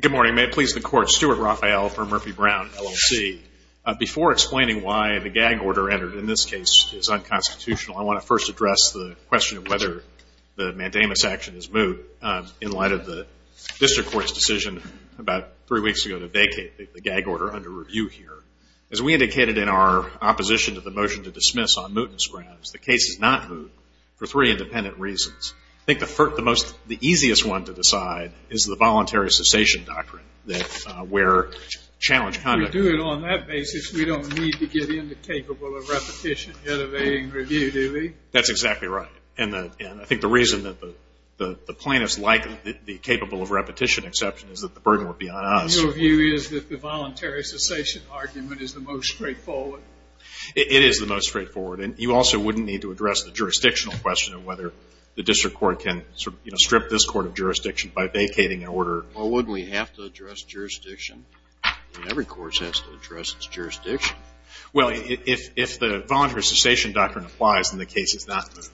Good morning. May it please the Court, Stuart Raphael for Murphy-Brown, LLC. Before explaining why the gag order entered in this case is unconstitutional, I want to first address the question of whether the mandamus action is moot in light of the District Court's decision about three weeks ago to vacate the gag order under review here. As we indicated in our opposition to the motion to dismiss on mootness grounds, the case is not moot for three independent reasons. I think the easiest one to decide is the voluntary cessation doctrine where challenged conduct... If we do it on that basis, we don't need to get into capable of repetition in evading review, do we? That's exactly right. And I think the reason that the plaintiffs like the capable of repetition exception is that the burden would be on us. Your view is that the voluntary cessation argument is the most straightforward? It is the most straightforward. And you also wouldn't need to address the jurisdictional question of whether the District Court can sort of, you know, strip this court of jurisdiction by vacating an order. Well, wouldn't we have to address jurisdiction? I mean, every court has to address its jurisdiction. Well, if the voluntary cessation doctrine applies, then the case is not moot.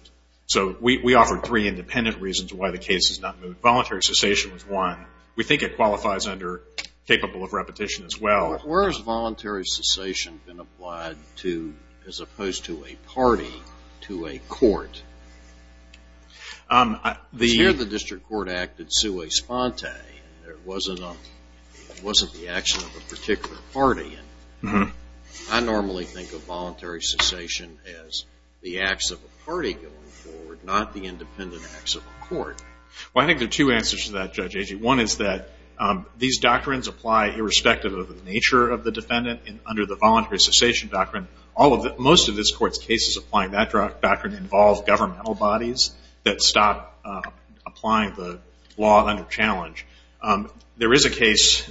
So we offer three independent reasons why the case is not moot. Voluntary cessation is one. We think it qualifies under capable of repetition as well. Where has voluntary cessation been applied to as opposed to a party, to a court? Here the District Court acted sua sponte. It wasn't the action of a particular party. I normally think of voluntary cessation as the acts of a party going forward, not the independent acts of a court. Well, I think there are two answers to that, Judge Agee. One is that these doctrines apply irrespective of the nature of the defendant under the voluntary cessation doctrine. Most of this Court's cases applying that doctrine involve governmental bodies that stop applying the law under challenge. There is a case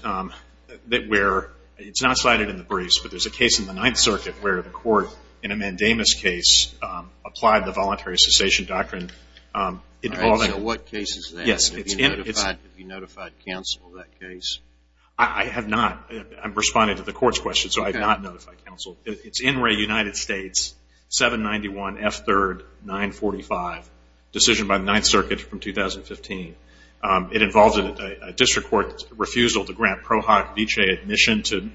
where it's not cited in the briefs, but there's a case in the Ninth Circuit where the court in a mandamus case applied the voluntary cessation doctrine. All right, so what case is that? Have you notified counsel of that case? I have not. I'm responding to the Court's question, so I have not notified counsel. It's NRA United States, 791 F3rd 945, decision by the Ninth Circuit from 2015. It involved a District Court refusal to grant pro hoc vicee admission to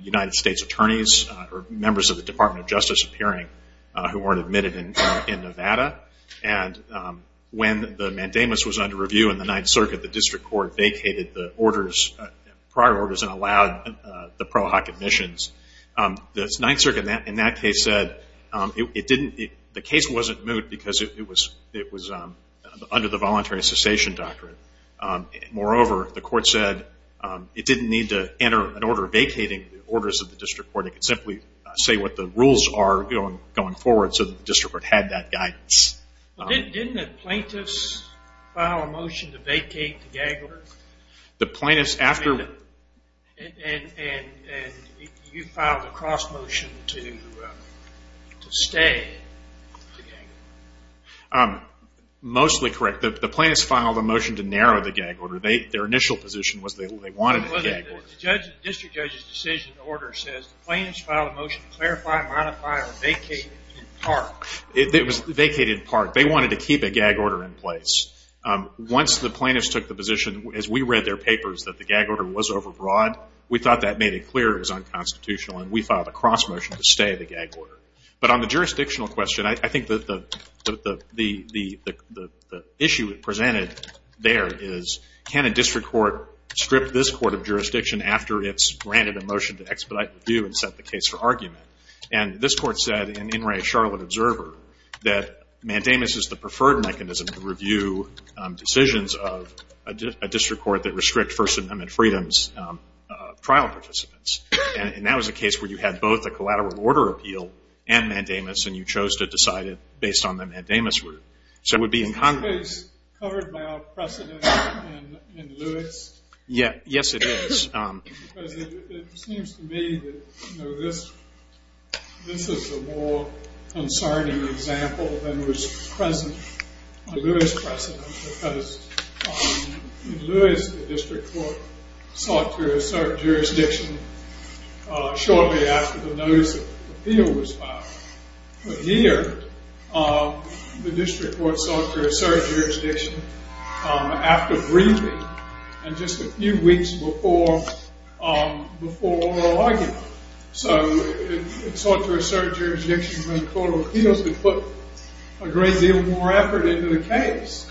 United States attorneys or members of the Department of Justice appearing who weren't admitted in Nevada. And when the mandamus was under review in the Ninth Circuit, the District Court vacated the prior orders and allowed the pro hoc admissions. The Ninth Circuit in that case said the case wasn't moot because it was under the voluntary cessation doctrine. Moreover, the court said it didn't need to enter an order vacating the orders of the District Court. It could simply say what the rules are going forward so that the District Court had that guidance. Didn't the plaintiffs file a motion to vacate the gag order? The plaintiffs after... And you filed a cross motion to stay the gag order. Mostly correct. The plaintiffs filed a motion to narrow the gag order. Their initial position was they wanted a gag order. The District Judge's decision order says the plaintiffs filed a motion to clarify, modify, or vacate in part. It was vacated in part. They wanted to keep a gag order in place. Once the plaintiffs took the position, as we read their papers, that the gag order was overbroad, we thought that made it clear it was unconstitutional, and we filed a cross motion to stay the gag order. But on the jurisdictional question, I think that the issue presented there is, can a District Court strip this court of jurisdiction after it's granted a motion to expedite review and set the case for argument? And this court said, in In Re Charlotte Observer, that mandamus is the preferred mechanism to review decisions of a District Court that restrict First Amendment freedoms of trial participants. And that was a case where you had both a collateral order appeal and mandamus, and you chose to decide it based on the mandamus rule. So it would be incongruous. Is this case covered by our precedent in Lewis? Yes, it is. Because it seems to me that this is a more concerning example than was present in Lewis precedent, because in Lewis, the District Court sought to assert jurisdiction shortly after the notice of the appeal was filed. But here, the District Court sought to assert jurisdiction after briefing, and just a few weeks before oral argument. So it sought to assert jurisdiction when the court of appeals would put a great deal more effort into the case.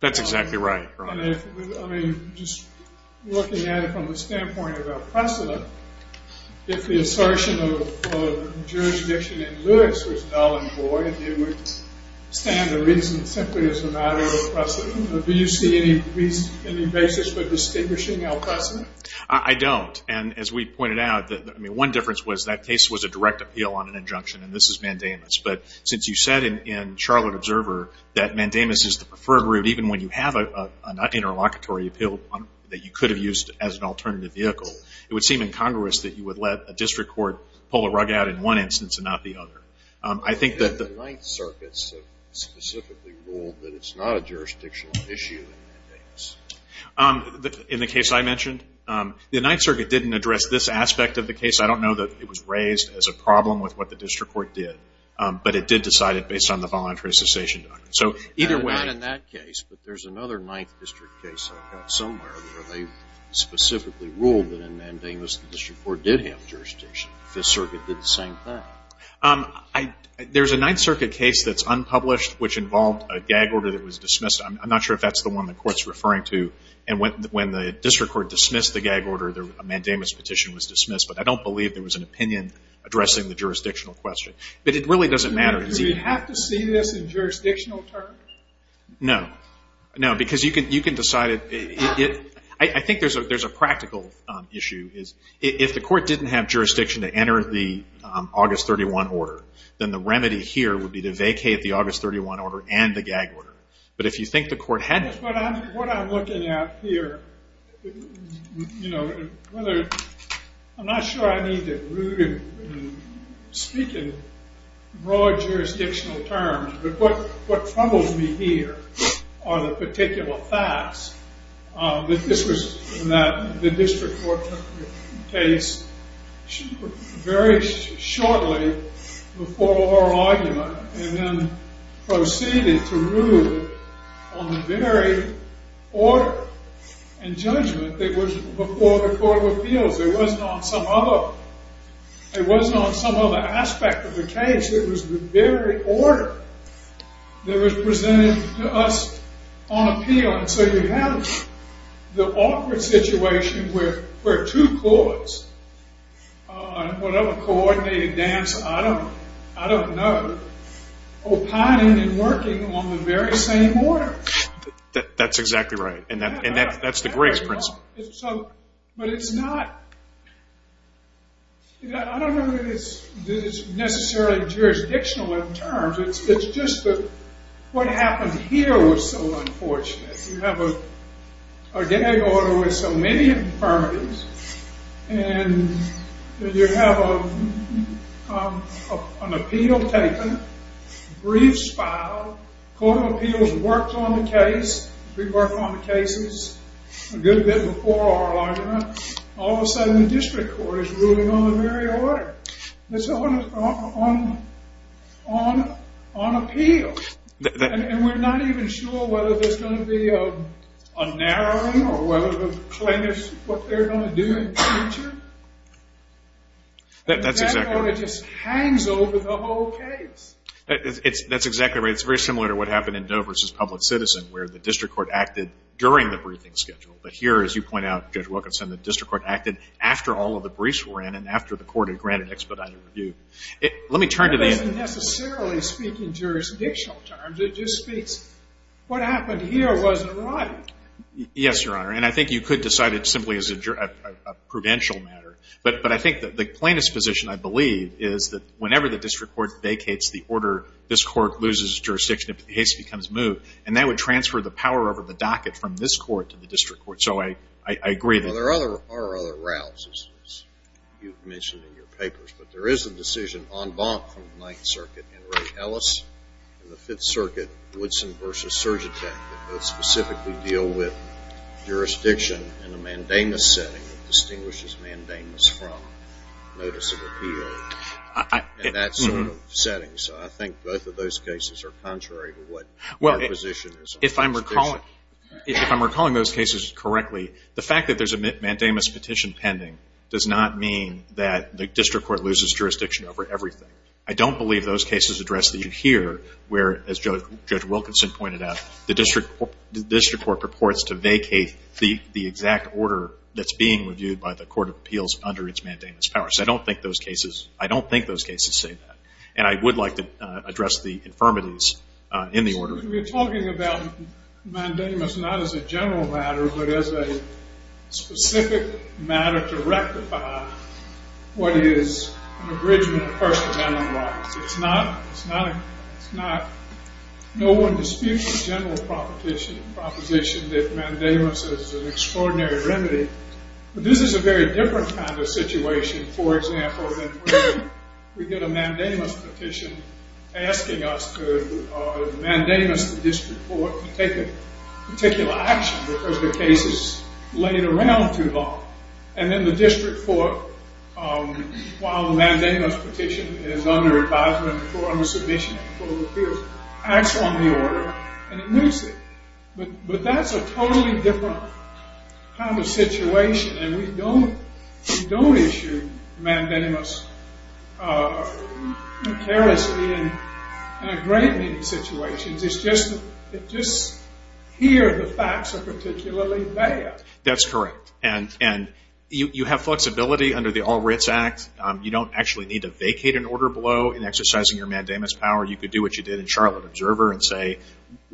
That's exactly right. I mean, just looking at it from the standpoint of our precedent, if the assertion of jurisdiction in Lewis was null and void, it would stand to reason simply as a matter of precedent. Do you see any basis for distinguishing our precedent? I don't. And as we pointed out, one difference was that case was a direct appeal on an injunction, and this is mandamus. But since you said in Charlotte Observer that mandamus is the preferred route, even when you have an interlocutory appeal that you could have used as an alternative vehicle, it would seem incongruous that you would let a District Court pull a rug out in one instance and not the other. I think that the Ninth Circuit specifically ruled that it's not a jurisdictional issue in mandamus. In the case I mentioned? The Ninth Circuit didn't address this aspect of the case. I don't know that it was raised as a problem with what the District Court did, but it did decide it based on the voluntary cessation doctrine. Not in that case, but there's another Ninth District case I've got somewhere where they specifically ruled that in mandamus the District Court did have jurisdiction. Fifth Circuit did the same thing. There's a Ninth Circuit case that's unpublished which involved a gag order that was dismissed. I'm not sure if that's the one the Court's referring to. And when the District Court dismissed the gag order, the mandamus petition was dismissed. But I don't believe there was an opinion addressing the jurisdictional question. But it really doesn't matter. Do we have to see this in jurisdictional terms? No. No, because you can decide it. I think there's a practical issue. If the Court didn't have jurisdiction to enter the August 31 order, then the remedy here would be to vacate the August 31 order and the gag order. But if you think the Court hadn't... What I'm looking at here, you know, whether... I'm not sure I need to speak in broad jurisdictional terms, but what troubles me here are the particular facts. This was in the District Court case very shortly before oral argument and then proceeded to rule on the very order and judgment that was before the Court of Appeals. It wasn't on some other... It wasn't on some other aspect of the case. It was the very order that was presented to us on appeal. And so you have the awkward situation where two courts, whatever court they advance, I don't know, opine in working on the very same order. That's exactly right. And that's the greatest principle. But it's not... I don't know that it's necessarily jurisdictional in terms. It's just that what happened here was so unfortunate. You have a gag order with so many affirmatives and you have an appeal taken, briefs filed, Court of Appeals worked on the case, we worked on the cases a good bit before oral argument, all of a sudden the District Court is ruling on the very order. It's on appeal. And we're not even sure whether there's going to be a narrowing or whether the plaintiffs, what they're going to do in the future. That order just hangs over the whole case. That's exactly right. It's very similar to what happened in Dover v. Public Citizen where the District Court acted during the briefing schedule. But here, as you point out, Judge Wilkinson, the District Court acted after all of the briefs were in and after the Court had granted expedited review. It doesn't necessarily speak in jurisdictional terms. It just speaks what happened here wasn't right. Yes, Your Honor. And I think you could decide it simply as a prudential matter. But I think the plaintiff's position, I believe, is that whenever the District Court vacates the order, this Court loses jurisdiction if the case becomes moved. And that would transfer the power over the docket from this Court to the District Court. So I agree that there are other routes, as you mentioned in your papers. But there is a decision en banc from the Ninth Circuit in Ray Ellis and the Fifth Circuit, Woodson v. Surgentech, that both specifically deal with jurisdiction in a mandamus setting that distinguishes mandamus from notice of appeal in that sort of setting. So I think both of those cases are contrary to what your position is on jurisdiction. If I'm recalling those cases correctly, the fact that there's a mandamus petition pending does not mean that the District Court loses jurisdiction over everything. I don't believe those cases address the issue here where, as Judge Wilkinson pointed out, the District Court purports to vacate the exact order that's being reviewed by the Court of Appeals under its mandamus power. So I don't think those cases say that. And I would like to address the infirmities in the order. You're talking about mandamus not as a general matter but as a specific matter to rectify what is an abridgment of First Amendment rights. It's not no one disputes a general proposition that mandamus is an extraordinary remedy. But this is a very different kind of situation, for example, than when we get a mandamus petition asking us to mandamus the District Court to take a particular action because the case is laying around too long. And then the District Court, while the mandamus petition is under advisement or under submission by the Court of Appeals, acts on the order and it moves it. But that's a totally different kind of situation. And we don't issue mandamus carelessly in a great many situations. It's just here the facts are particularly bad. That's correct. And you have flexibility under the All Writs Act. You don't actually need to vacate an order below in exercising your mandamus power. You could do what you did in Charlotte Observer and say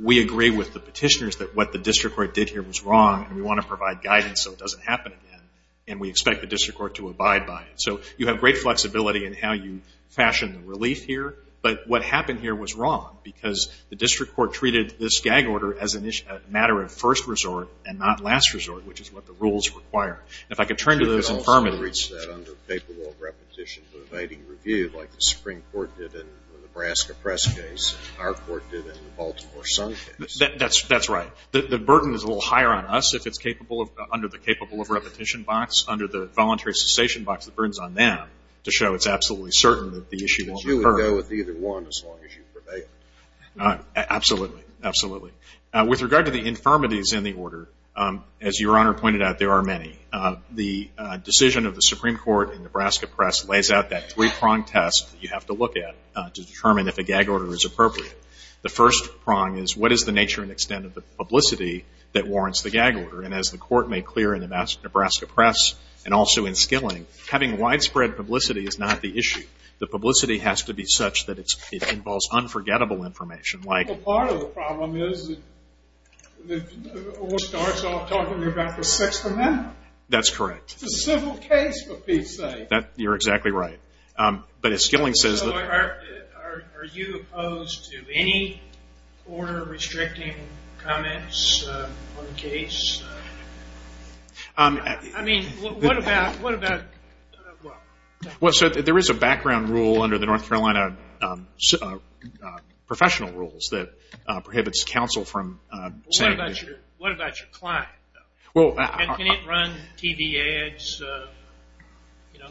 we agree with the petitioners that what the District Court did here was wrong and we want to provide guidance so it doesn't happen again. And we expect the District Court to abide by it. So you have great flexibility in how you fashion the relief here. But what happened here was wrong because the District Court treated this gag order as a matter of first resort and not last resort, which is what the rules require. And if I could turn to those infirmities. You could also reach that under the paperwork repetition for evading review like the Supreme Court did in the Nebraska press case and our court did in the Baltimore Sun case. That's right. The burden is a little higher on us if it's capable of under the capable of repetition box, under the voluntary cessation box, the burden is on them to show it's absolutely certain that the issue won't occur. But you would go with either one as long as you prevail. Absolutely. Absolutely. With regard to the infirmities in the order, as Your Honor pointed out, there are many. The decision of the Supreme Court in Nebraska press lays out that three-prong test that you have to look at to determine if a gag order is appropriate. The first prong is what is the nature and extent of the publicity that warrants the gag order? And as the court made clear in the Nebraska press and also in Skilling, having widespread publicity is not the issue. The publicity has to be such that it involves unforgettable information. Well, part of the problem is that the order starts off talking about the Sixth Amendment. That's correct. It's a civil case, for Pete's sake. You're exactly right. But as Skilling says... So are you opposed to any order restricting comments on the case? I mean, what about... Well, sir, there is a background rule under the North Carolina professional rules that prohibits counsel from saying... What about your client, though? Can it run TV ads? Can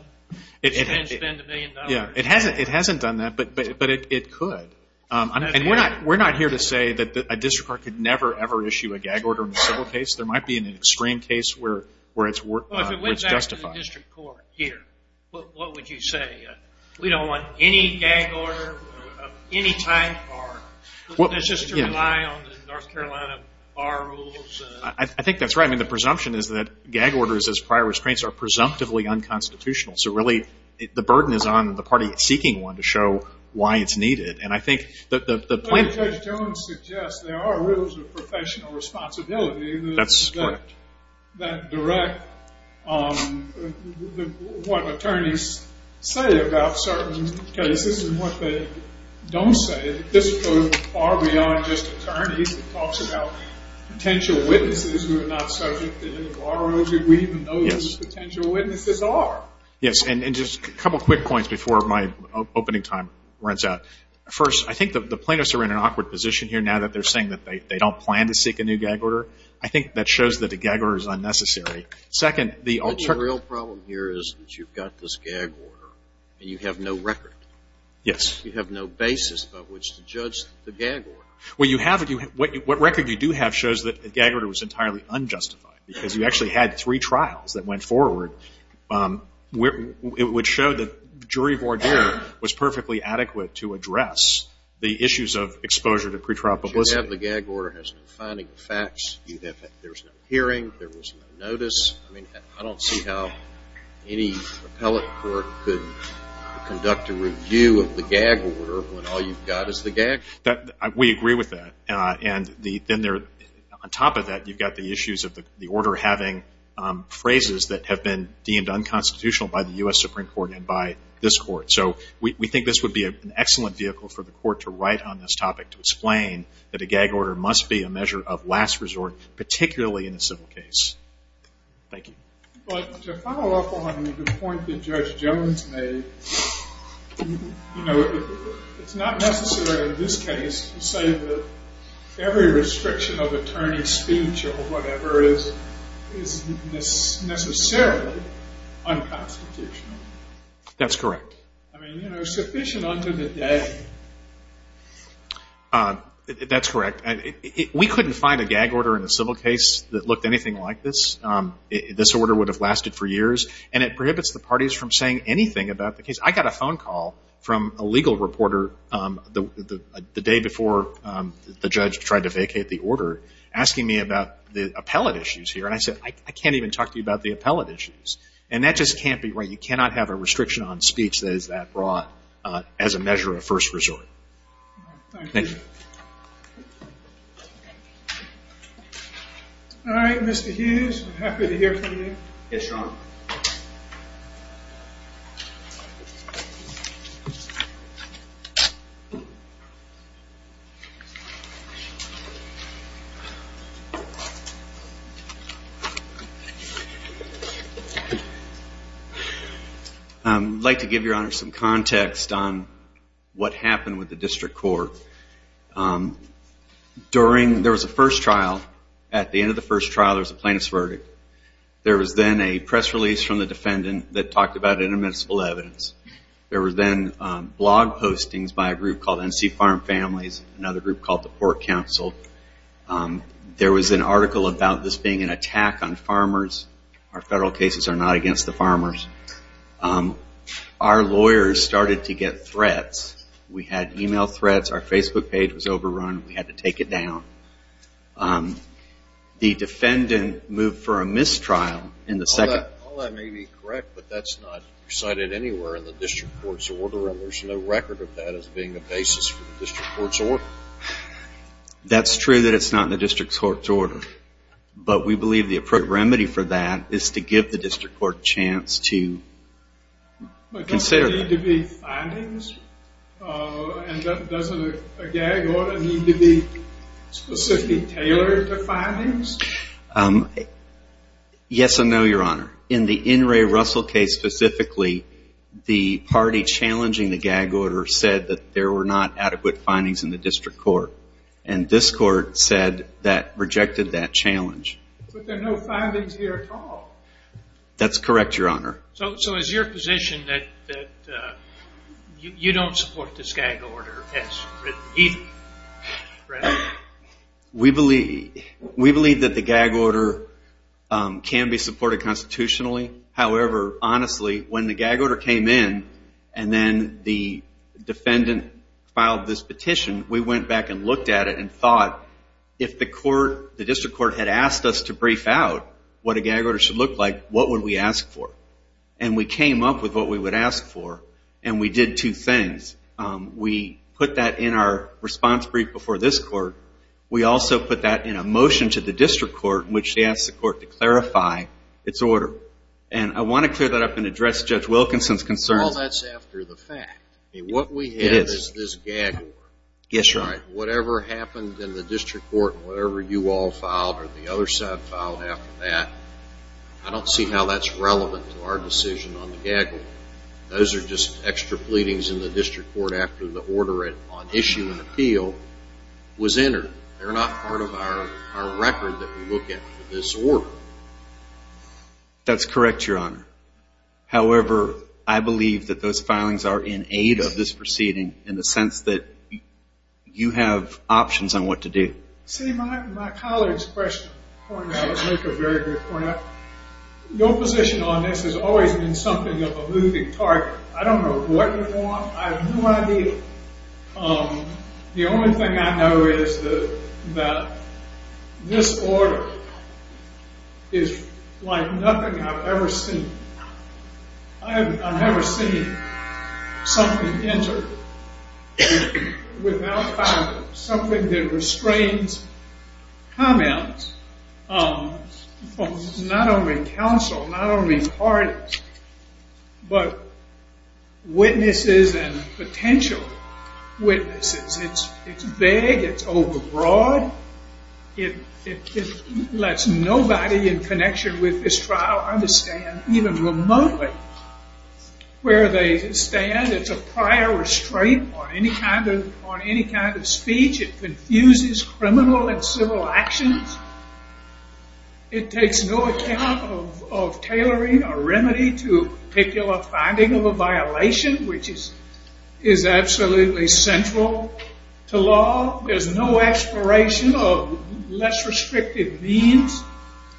it spend a million dollars? It hasn't done that, but it could. And we're not here to say that a district court could never, ever issue a gag order in a civil case. There might be an extreme case where it's justified. What would you say? We don't want any gag order of any type? Or is this just to rely on the North Carolina bar rules? I think that's right. I mean, the presumption is that gag orders as prior restraints are presumptively unconstitutional. So really, the burden is on the party seeking one to show why it's needed. And I think that the plan... Judge Jones suggests there are rules of professional responsibility... That's correct. ...that direct what attorneys say about certain cases and what they don't say. This goes far beyond just attorneys. It talks about potential witnesses who are not subject to any bar rules. We even know who the potential witnesses are. Yes, and just a couple quick points before my opening time runs out. First, I think the plaintiffs are in an awkward position here now that they're saying that they don't plan to seek a new gag order. I think that shows that a gag order is unnecessary. Second, the alternative... The real problem here is that you've got this gag order and you have no record. Yes. You have no basis by which to judge the gag order. Well, you have it. What record you do have shows that the gag order was entirely unjustified because you actually had three trials that went forward. It would show that jury voir dire was perfectly adequate to address the issues of exposure to pretrial publicity. You have the gag order. It has no finding of facts. There was no hearing. There was no notice. I don't see how any appellate court could conduct a review of the gag order when all you've got is the gag. We agree with that. On top of that, you've got the issues of the order having phrases that have been deemed unconstitutional by the U.S. Supreme Court and by this court. So we think this would be an excellent vehicle for the court to write on this topic to explain that a gag order must be a measure of last resort, particularly in a civil case. Thank you. But to follow up on the point that Judge Jones made, it's not necessary in this case to say that every restriction of attorney's speech or whatever is necessarily unconstitutional. That's correct. I mean, you know, sufficient unto the day. That's correct. We couldn't find a gag order in a civil case that looked anything like this. This order would have lasted for years, and it prohibits the parties from saying anything about the case. I got a phone call from a legal reporter the day before the judge tried to vacate the order asking me about the appellate issues here, and I said, I can't even talk to you about the appellate issues, and that just can't be right. You cannot have a restriction on speech that is that broad as a measure of first resort. Thank you. Thank you. All right, Mr. Hughes, I'm happy to hear from you. Yes, Your Honor. I'd like to give Your Honor some context on what happened with the district court. During the first trial, at the end of the first trial, there was a plaintiff's verdict. There was then a press release from the defendant that talked about interminable evidence. There was then blog postings by a group called NC Farm Families, another group called the Pork Council. There was an article about this being an attack on farmers. Our federal cases are not against the farmers. Our lawyers started to get threats. We had email threats. Our Facebook page was overrun. We had to take it down. The defendant moved for a mistrial in the second. All that may be correct, but that's not cited anywhere in the district court's order, and there's no record of that as being the basis for the district court's order. That's true that it's not in the district court's order, but we believe the appropriate remedy for that is to give the district court a chance to consider that. Does there need to be findings? And doesn't a gag order need to be specifically tailored to findings? Yes and no, Your Honor. In the N. Ray Russell case specifically, the party challenging the gag order said that there were not adequate findings in the district court, and this court said that rejected that challenge. But there are no findings here at all. That's correct, Your Honor. So is your position that you don't support this gag order as written either? We believe that the gag order can be supported constitutionally. However, honestly, when the gag order came in and then the defendant filed this petition, we went back and looked at it and thought, if the district court had asked us to brief out what a gag order should look like, what would we ask for? And we came up with what we would ask for, and we did two things. We put that in our response brief before this court. We also put that in a motion to the district court in which they asked the court to clarify its order. And I want to clear that up and address Judge Wilkinson's concerns. Well, that's after the fact. What we have is this gag order. Yes, Your Honor. Whatever happened in the district court, whatever you all filed or the other side filed after that, I don't see how that's relevant to our decision on the gag order. Those are just extra pleadings in the district court after the order on issue and appeal was entered. They're not part of our record that we look at for this order. That's correct, Your Honor. However, I believe that those filings are in aid of this proceeding in the sense that you have options on what to do. See, my college question, Your Honor, would make a very good point. Your position on this has always been something of a moving target. I don't know what you want. I have no idea. The only thing I know is that this order is like nothing I've ever seen. I've never seen something entered without filing. Something that restrains comments from not only counsel, not only parties, but witnesses and potential witnesses. It's vague. It's overbroad. It lets nobody in connection with this trial understand even remotely where they stand. It's a prior restraint on any kind of speech. It confuses criminal and civil actions. It takes no account of tailoring a remedy to a particular finding of a violation, which is absolutely central to law. There's no exploration of less restrictive means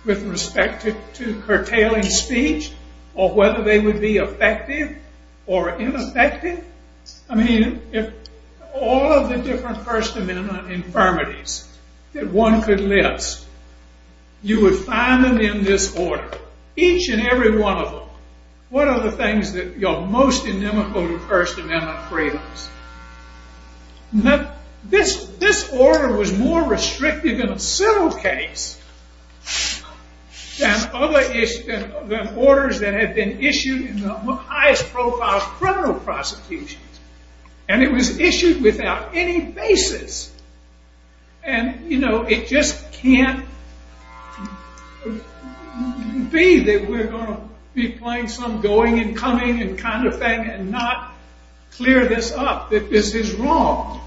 with respect to curtailing speech or whether they would be effective or ineffective. I mean, if all of the different First Amendment infirmities that one could list, you would find them in this order. Each and every one of them. What are the things that are most inimical to First Amendment freedoms? This order was more restrictive in a civil case than orders that had been issued in the highest profile criminal prosecutions. And it was issued without any basis. And, you know, it just can't be that we're going to be playing some going and coming kind of thing and not clear this up, that this is wrong.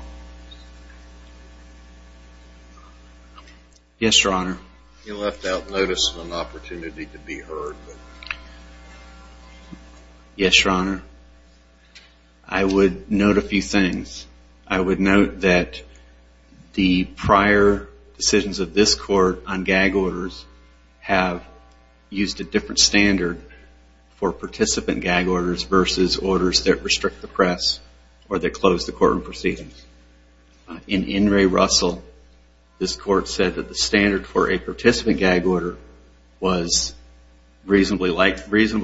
Yes, Your Honor. You left out notice of an opportunity to be heard. Yes, Your Honor. I would note a few things. I would note that the prior decisions of this Court on gag orders have used a different standard for participant gag orders versus orders that restrict the press or that close the courtroom proceedings. In In re Russell, this Court said that the standard for a participant gag order was reasonable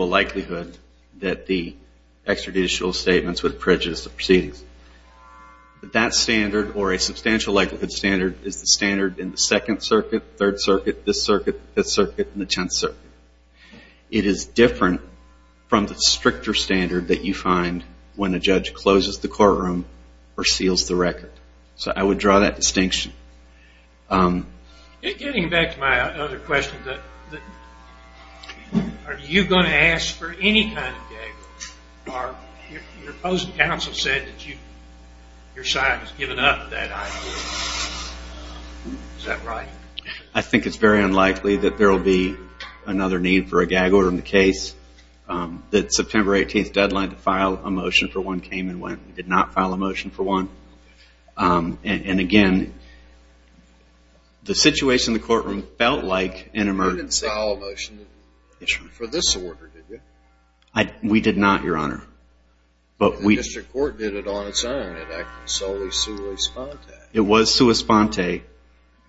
likelihood that the extrajudicial statements would prejudice the proceedings. That standard, or a substantial likelihood standard, is the standard in the Second Circuit, Third Circuit, Fifth Circuit, and the Tenth Circuit. It is different from the stricter standard that you find when a judge closes the courtroom or seals the record. So I would draw that distinction. Getting back to my other question, are you going to ask for any kind of gag order? Your opposing counsel said that your side has given up that idea. Is that right? I think it's very unlikely that there will be another need for a gag order in the case. The September 18th deadline to file a motion for one came and went. We did not file a motion for one. And, again, the situation in the courtroom felt like an emergency. You didn't file a motion for this order, did you? We did not, Your Honor. But the district court did it on its own. It acted solely sua sponte. It was sua sponte.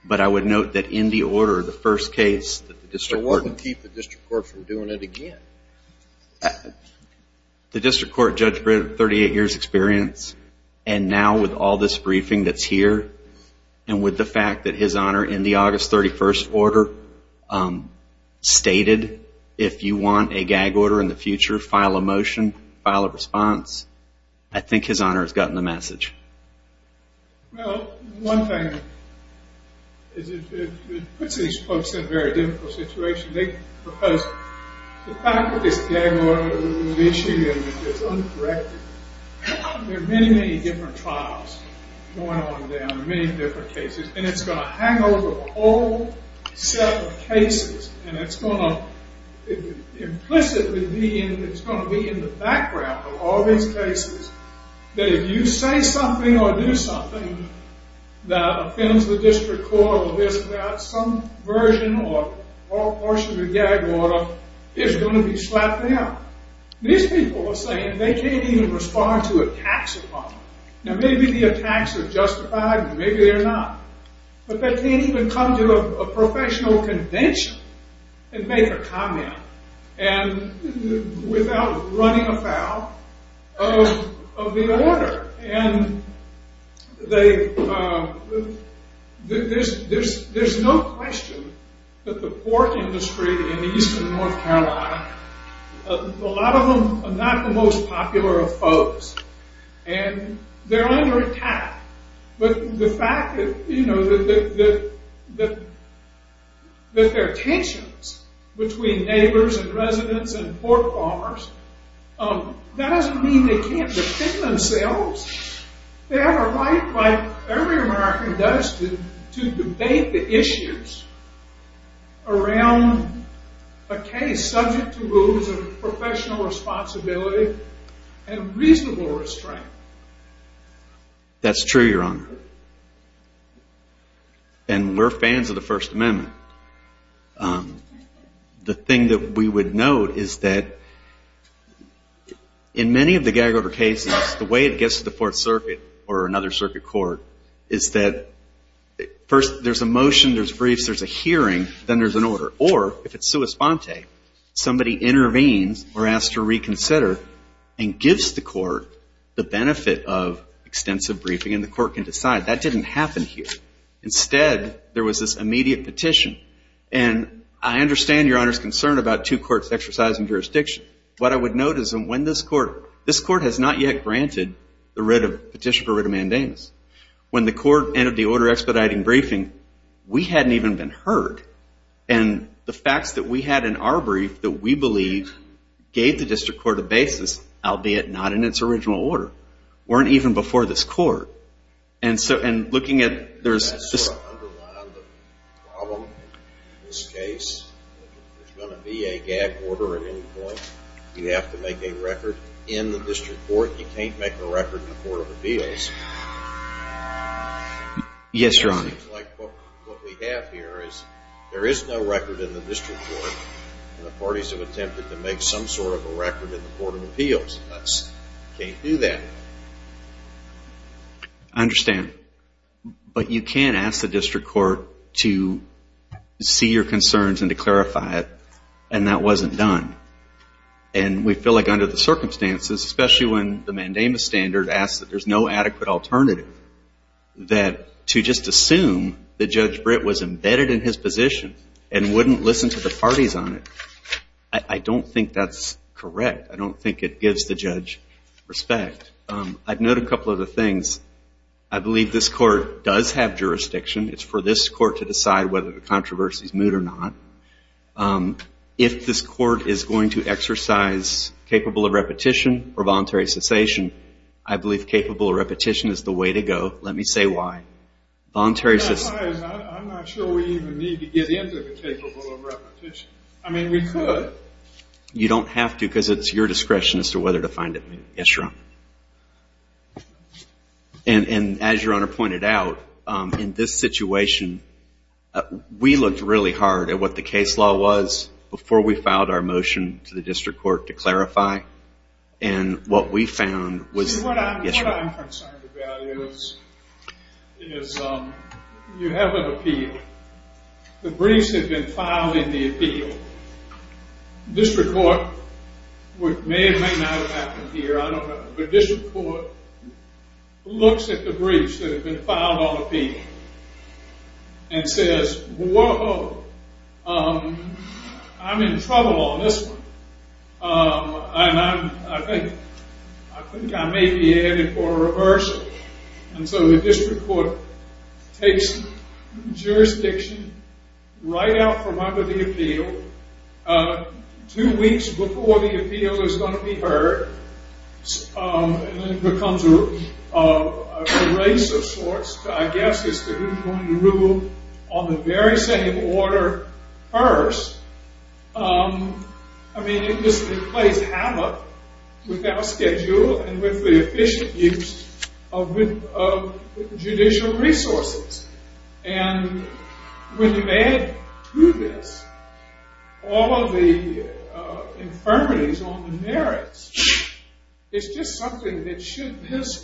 But I would note that in the order, the first case that the district court It wouldn't keep the district court from doing it again. The district court judge had 38 years' experience, and now with all this briefing that's here and with the fact that his honor in the August 31st order stated, if you want a gag order in the future, file a motion, file a response, I think his honor has gotten the message. Well, one thing is it puts these folks in a very difficult situation. The fact that this gag order is an issue and it's uncorrected, there are many, many different trials going on down there, many different cases, and it's going to hang over a whole set of cases, and it's going to implicitly be in the background of all these cases that if you say something or do something that offends the district court or there's some version or portion of the gag order, it's going to be slapped down. These people are saying they can't even respond to attacks upon them. Now, maybe the attacks are justified and maybe they're not, but they can't even come to a professional convention and make a comment without running afoul of the order. And there's no question that the pork industry in eastern North Carolina, a lot of them are not the most popular of folks, and they're under attack. But the fact that there are tensions between neighbors and residents and pork farmers, that doesn't mean they can't defend themselves. They have a right, like every American does, to debate the issues around a case subject to rules of professional responsibility and reasonable restraint. That's true, Your Honor, and we're fans of the First Amendment. The thing that we would note is that in many of the gag order cases, the way it gets to the Fourth Circuit or another circuit court is that first there's a motion, there's briefs, there's a hearing, then there's an order. Or if it's sua sponte, somebody intervenes or asks to reconsider and gives the court the benefit of extensive briefing and the court can decide. That didn't happen here. Instead, there was this immediate petition. And I understand Your Honor's concern about two courts exercising jurisdiction. What I would note is that this court has not yet granted the petition for writ of mandamus. When the court entered the order expediting briefing, we hadn't even been heard. And the facts that we had in our brief that we believe gave the district court a basis, albeit not in its original order, weren't even before this court. Does that sort of underline the problem in this case? If there's going to be a gag order at any point, you have to make a record in the district court. You can't make a record in the Court of Appeals. Yes, Your Honor. What we have here is there is no record in the district court, and the parties have attempted to make some sort of a record in the Court of Appeals. You can't do that. I understand. But you can ask the district court to see your concerns and to clarify it, and that wasn't done. And we feel like under the circumstances, especially when the mandamus standard asks that there's no adequate alternative, that to just assume that Judge Britt was embedded in his position and wouldn't listen to the parties on it, I don't think that's correct. I don't think it gives the judge respect. I'd note a couple of other things. I believe this court does have jurisdiction. It's for this court to decide whether the controversy is moot or not. If this court is going to exercise capable of repetition or voluntary cessation, I believe capable of repetition is the way to go. Let me say why. Voluntary cessation. I'm not sure we even need to get into the capable of repetition. I mean, we could. But you don't have to because it's your discretion as to whether to find it moot. Yes, Your Honor. And as Your Honor pointed out, in this situation, we looked really hard at what the case law was before we filed our motion to the district court to clarify. And what we found was that, yes, Your Honor. What I'm concerned about is you have an appeal. The briefs have been filed in the appeal. District court, which may or may not have happened here, I don't know, but district court looks at the briefs that have been filed on appeal and says, whoa, I'm in trouble on this one. And I think I may be headed for a reversal. And so the district court takes jurisdiction right out from under the appeal, two weeks before the appeal is going to be heard, and then it becomes a race of sorts, I guess, as to who's going to rule on the very same order first. I mean, it just plays havoc with our schedule and with the efficient use of judicial resources. And when you add to this all of the infirmities on the merits, it's just something that should,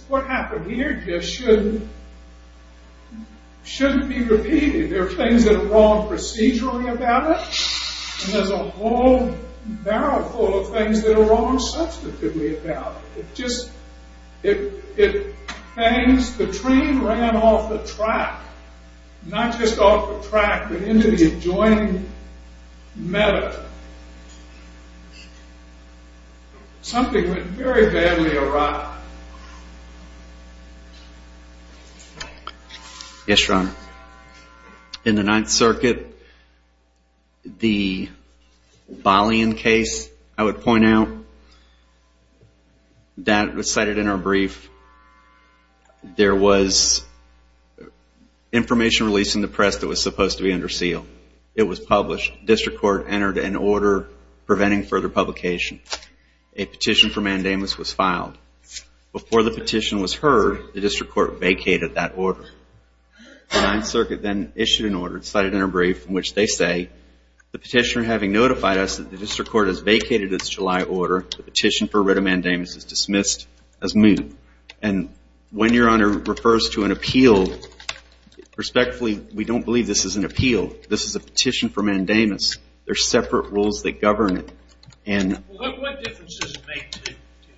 what happened here just shouldn't be repeated. There are things that are wrong procedurally about it, and there's a whole barrel full of things that are wrong substantively about it. It just, it hangs, the train ran off the track. Not just off the track, but into the adjoining meadow. Something went very badly awry. Yes, Your Honor. In the Ninth Circuit, the Boleyn case, I would point out, that was cited in our brief. There was information released in the press that was supposed to be under seal. It was published. District court entered an order preventing further publication. A petition for mandamus was filed. Before the petition was heard, the district court vacated that order. The Ninth Circuit then issued an order, cited in our brief, in which they say, the petitioner having notified us that the district court has vacated its July order, the petition for writ of mandamus is dismissed as moot. And when Your Honor refers to an appeal, respectfully, we don't believe this is an appeal. This is a petition for mandamus. They're separate rules that govern it. What difference does it make to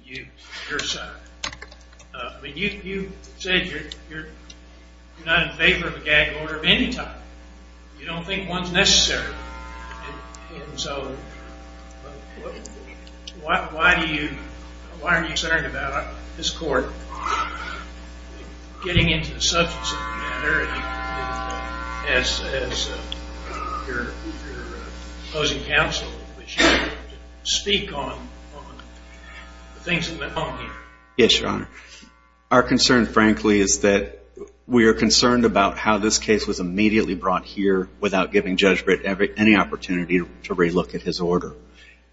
you, your side? You said you're not in favor of a gag order of any type. You don't think one's necessary. And so, why are you concerned about this court getting into the substance of the matter as your opposing counsel, which you speak on the things that went on here? Yes, Your Honor. Our concern, frankly, is that we are concerned about how this case was immediately brought here without giving Judge Britt any opportunity to relook at his order.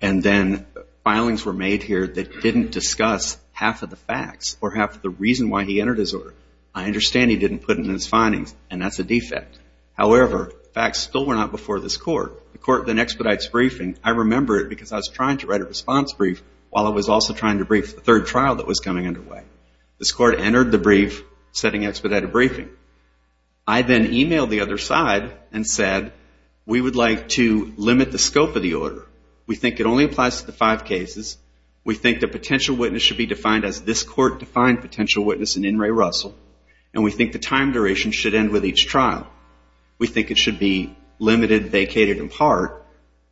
And then filings were made here that didn't discuss half of the facts or half of the reason why he entered his order. I understand he didn't put it in his findings, and that's a defect. However, facts still went out before this court. The court then expedites briefing. I remember it because I was trying to write a response brief while I was also trying to brief the third trial that was coming underway. This court entered the brief setting expedited briefing. I then emailed the other side and said, we would like to limit the scope of the order. We think it only applies to the five cases. We think the potential witness should be defined as this court defined potential witness in In re Russell, and we think the time duration should end with each trial. We think it should be limited, vacated in part.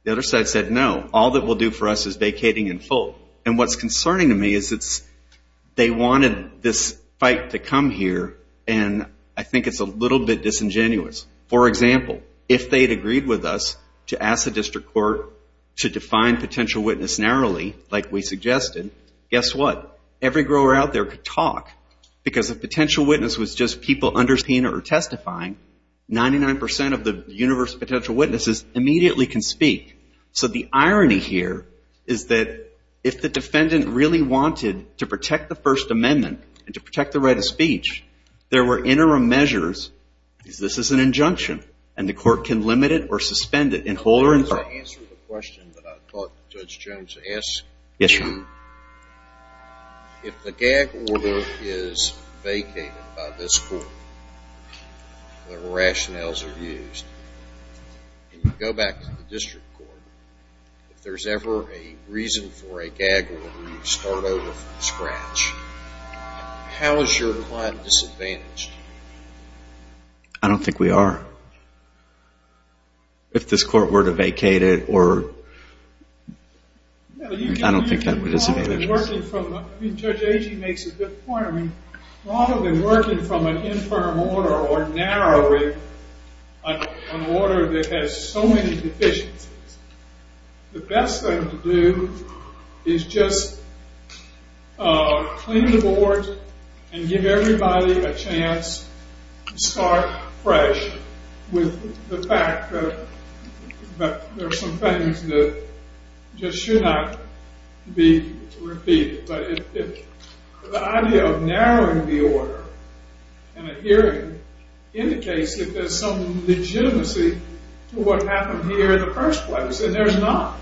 The other side said, no, all it will do for us is vacating in full. And what's concerning to me is they wanted this fight to come here, and I think it's a little bit disingenuous. For example, if they had agreed with us to ask the district court to define potential witness narrowly, like we suggested, guess what? Every grower out there could talk because if potential witness was just people understanding or testifying, 99% of the universe of potential witnesses immediately can speak. So the irony here is that if the defendant really wanted to protect the First Amendment and to protect the right of speech, there were interim measures. This is an injunction, and the court can limit it or suspend it in whole or in part. Can I answer the question that I thought Judge Jones asked? Yes, Your Honor. If the gag order is vacated by this court, whatever rationales are used, and you go back to the district court, if there's ever a reason for a gag order, you start over from scratch. How is your client disadvantaged? I don't think we are. If this court were to vacate it, I don't think that would disadvantage us. Judge Agee makes a good point. Rather than working from an interim order or narrowing an order that has so many deficiencies, the best thing to do is just clean the board and give everybody a chance to start fresh with the fact that there are some things that just should not be repeated. But the idea of narrowing the order in a hearing indicates that there's some legitimacy to what happened here in the first place, and there's not.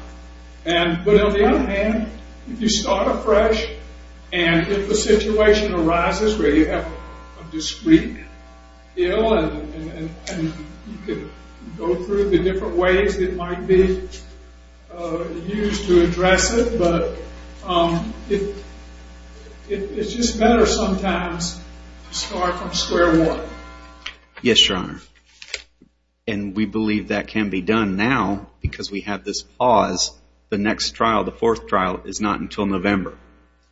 But on the other hand, if you start afresh and if a situation arises where you have a discreet ill and you can go through the different ways that might be used to address it, but it's just better sometimes to start from square one. Yes, Your Honor. And we believe that can be done now because we have this pause. The next trial, the fourth trial, is not until November,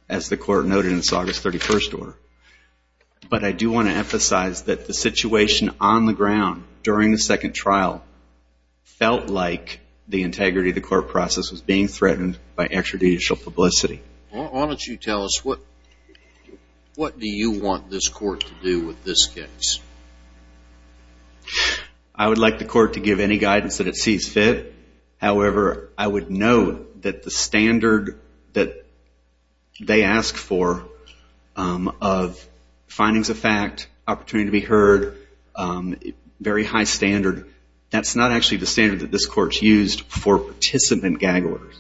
as the court noted in its August 31st order. But I do want to emphasize that the situation on the ground during the second trial felt like the integrity of the court process was being threatened by extrajudicial publicity. Why don't you tell us what do you want this court to do with this case? I would like the court to give any guidance that it sees fit. However, I would note that the standard that they ask for of findings of fact, opportunity to be heard, very high standard, that's not actually the standard that this court's used for participant gag orders.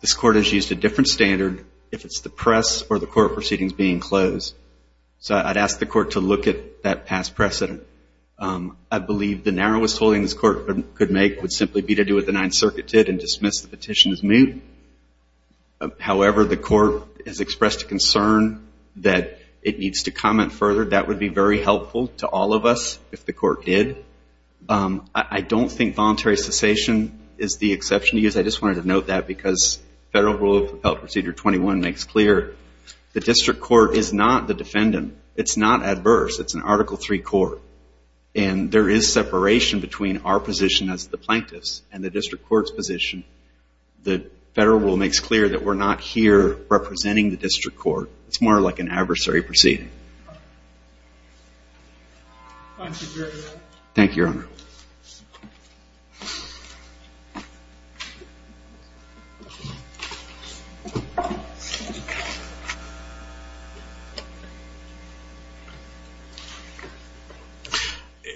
This court has used a different standard if it's the press or the court proceedings being closed. So I'd ask the court to look at that past precedent. I believe the narrowest holding this court could make would simply be to do what the Ninth Circuit did and dismiss the petition as moot. However, the court has expressed a concern that it needs to comment further. That would be very helpful to all of us if the court did. I don't think voluntary cessation is the exception to use. I just wanted to note that because Federal Rule of Propel Procedure 21 makes clear the district court is not the defendant. It's not adverse. It's an Article III court. And there is separation between our position as the plaintiffs and the district court's position. The Federal Rule makes clear that we're not here representing the district court. It's more like an adversary proceeding. Thank you, Your Honor.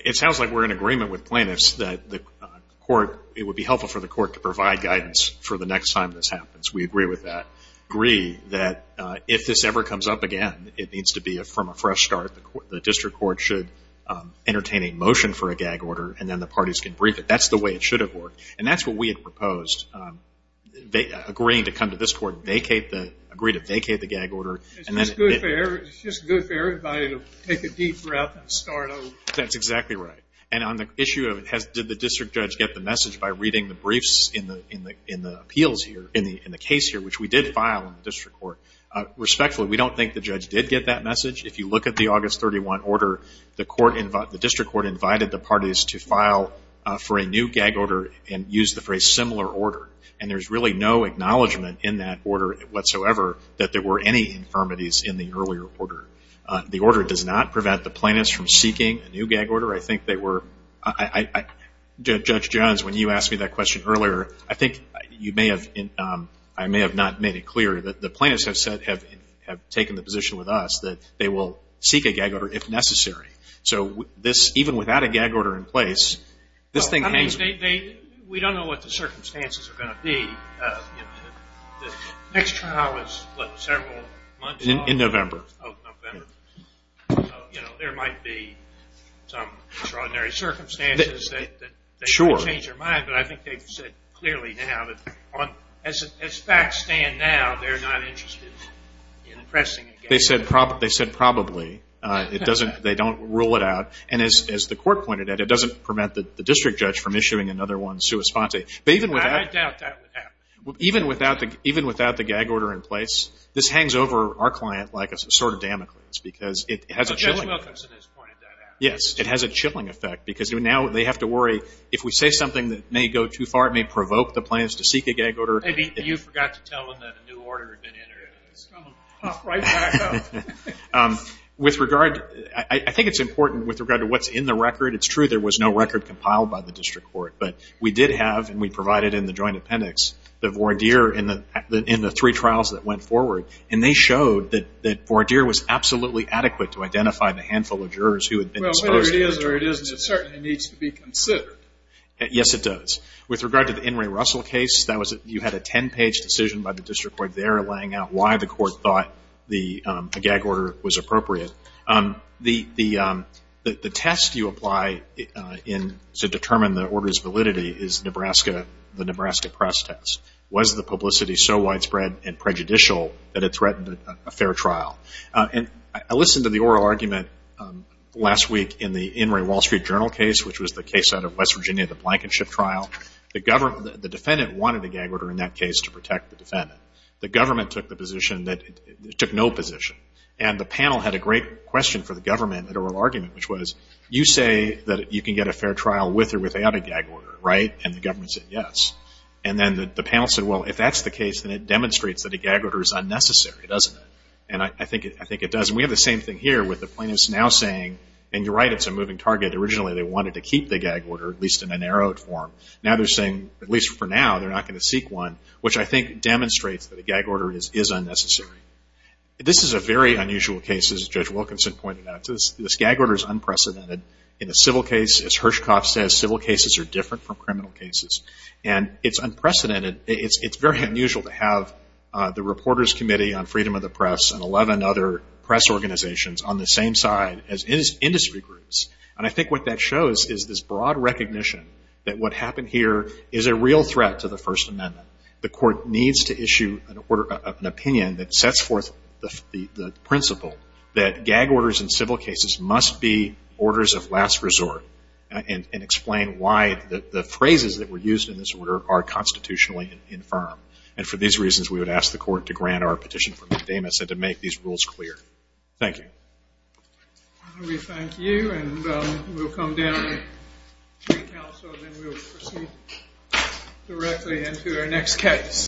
It sounds like we're in agreement with plaintiffs that the court, it would be helpful for the court to provide guidance for the next time this happens. We agree with that. I agree that if this ever comes up again, it needs to be from a fresh start. The district court should entertain a motion for a gag order, and then the parties can brief it. That's the way it should have worked. And that's what we had proposed, agreeing to come to this court and agree to vacate the gag order. It's just good for everybody to take a deep breath and start over. That's exactly right. And on the issue of did the district judge get the message by reading the briefs in the appeals here, in the case here, which we did file in the district court, respectfully, we don't think the judge did get that message. If you look at the August 31 order, the district court invited the parties to file for a new gag order and use the phrase similar order. And there's really no acknowledgment in that order whatsoever that there were any infirmities in the earlier order. The order does not prevent the plaintiffs from seeking a new gag order. I think they were, Judge Jones, when you asked me that question earlier, I think you may have, I may have not made it clear that the plaintiffs have said, have taken the position with us that they will seek a gag order if necessary. So this, even without a gag order in place, this thing has. We don't know what the circumstances are going to be. The next trial is, what, several months? In November. Oh, November. So, you know, there might be some extraordinary circumstances that change your mind. But I think they've said clearly now that as facts stand now, they're not interested in pressing a gag order. They said probably. It doesn't, they don't rule it out. And as the court pointed out, it doesn't prevent the district judge from issuing another one sua sponte. I doubt that would happen. Even without the gag order in place, this hangs over our client like a sword of Damocles because it has a chilling effect. Judge Wilkinson has pointed that out. Yes, it has a chilling effect because now they have to worry if we say something that may go too far, it may provoke the plaintiffs to seek a gag order. Maybe you forgot to tell them that a new order had been entered. It's going to pop right back up. With regard, I think it's important with regard to what's in the record. It's true there was no record compiled by the district court. But we did have, and we provided in the joint appendix, the voir dire in the three trials that went forward. And they showed that voir dire was absolutely adequate to identify the handful of jurors who had been exposed. Well, whether it is or it isn't, it certainly needs to be considered. Yes, it does. With regard to the In re Russell case, you had a ten-page decision by the district court there laying out why the court thought a gag order was appropriate. The test you apply to determine the order's validity is Nebraska, the Nebraska press test. Was the publicity so widespread and prejudicial that it threatened a fair trial? And I listened to the oral argument last week in the In re Wall Street Journal case, which was the case out of West Virginia, the Blankenship trial. The defendant wanted a gag order in that case to protect the defendant. The government took the position that it took no position. And the panel had a great question for the government at oral argument, which was you say that you can get a fair trial with or without a gag order, right? And the government said yes. And then the panel said, well, if that's the case, then it demonstrates that a gag order is unnecessary, doesn't it? And I think it does. And we have the same thing here with the plaintiffs now saying, and you're right, it's a moving target. Originally they wanted to keep the gag order, at least in a narrowed form. Now they're saying, at least for now, they're not going to seek one, which I think demonstrates that a gag order is unnecessary. This is a very unusual case, as Judge Wilkinson pointed out. This gag order is unprecedented. In a civil case, as Hirschkopf says, civil cases are different from criminal cases. And it's unprecedented. It's very unusual to have the Reporters Committee on Freedom of the Press and 11 other press organizations on the same side as industry groups. And I think what that shows is this broad recognition that what happened here is a real threat to the First Amendment. The court needs to issue an opinion that sets forth the principle that gag orders in civil cases must be orders of last resort and explain why the phrases that were used in this order are constitutionally infirm. And for these reasons, we would ask the court to grant our petition for an endemic and to make these rules clear. Thank you. We thank you, and we'll come down to the Council, and then we'll proceed directly into our next case.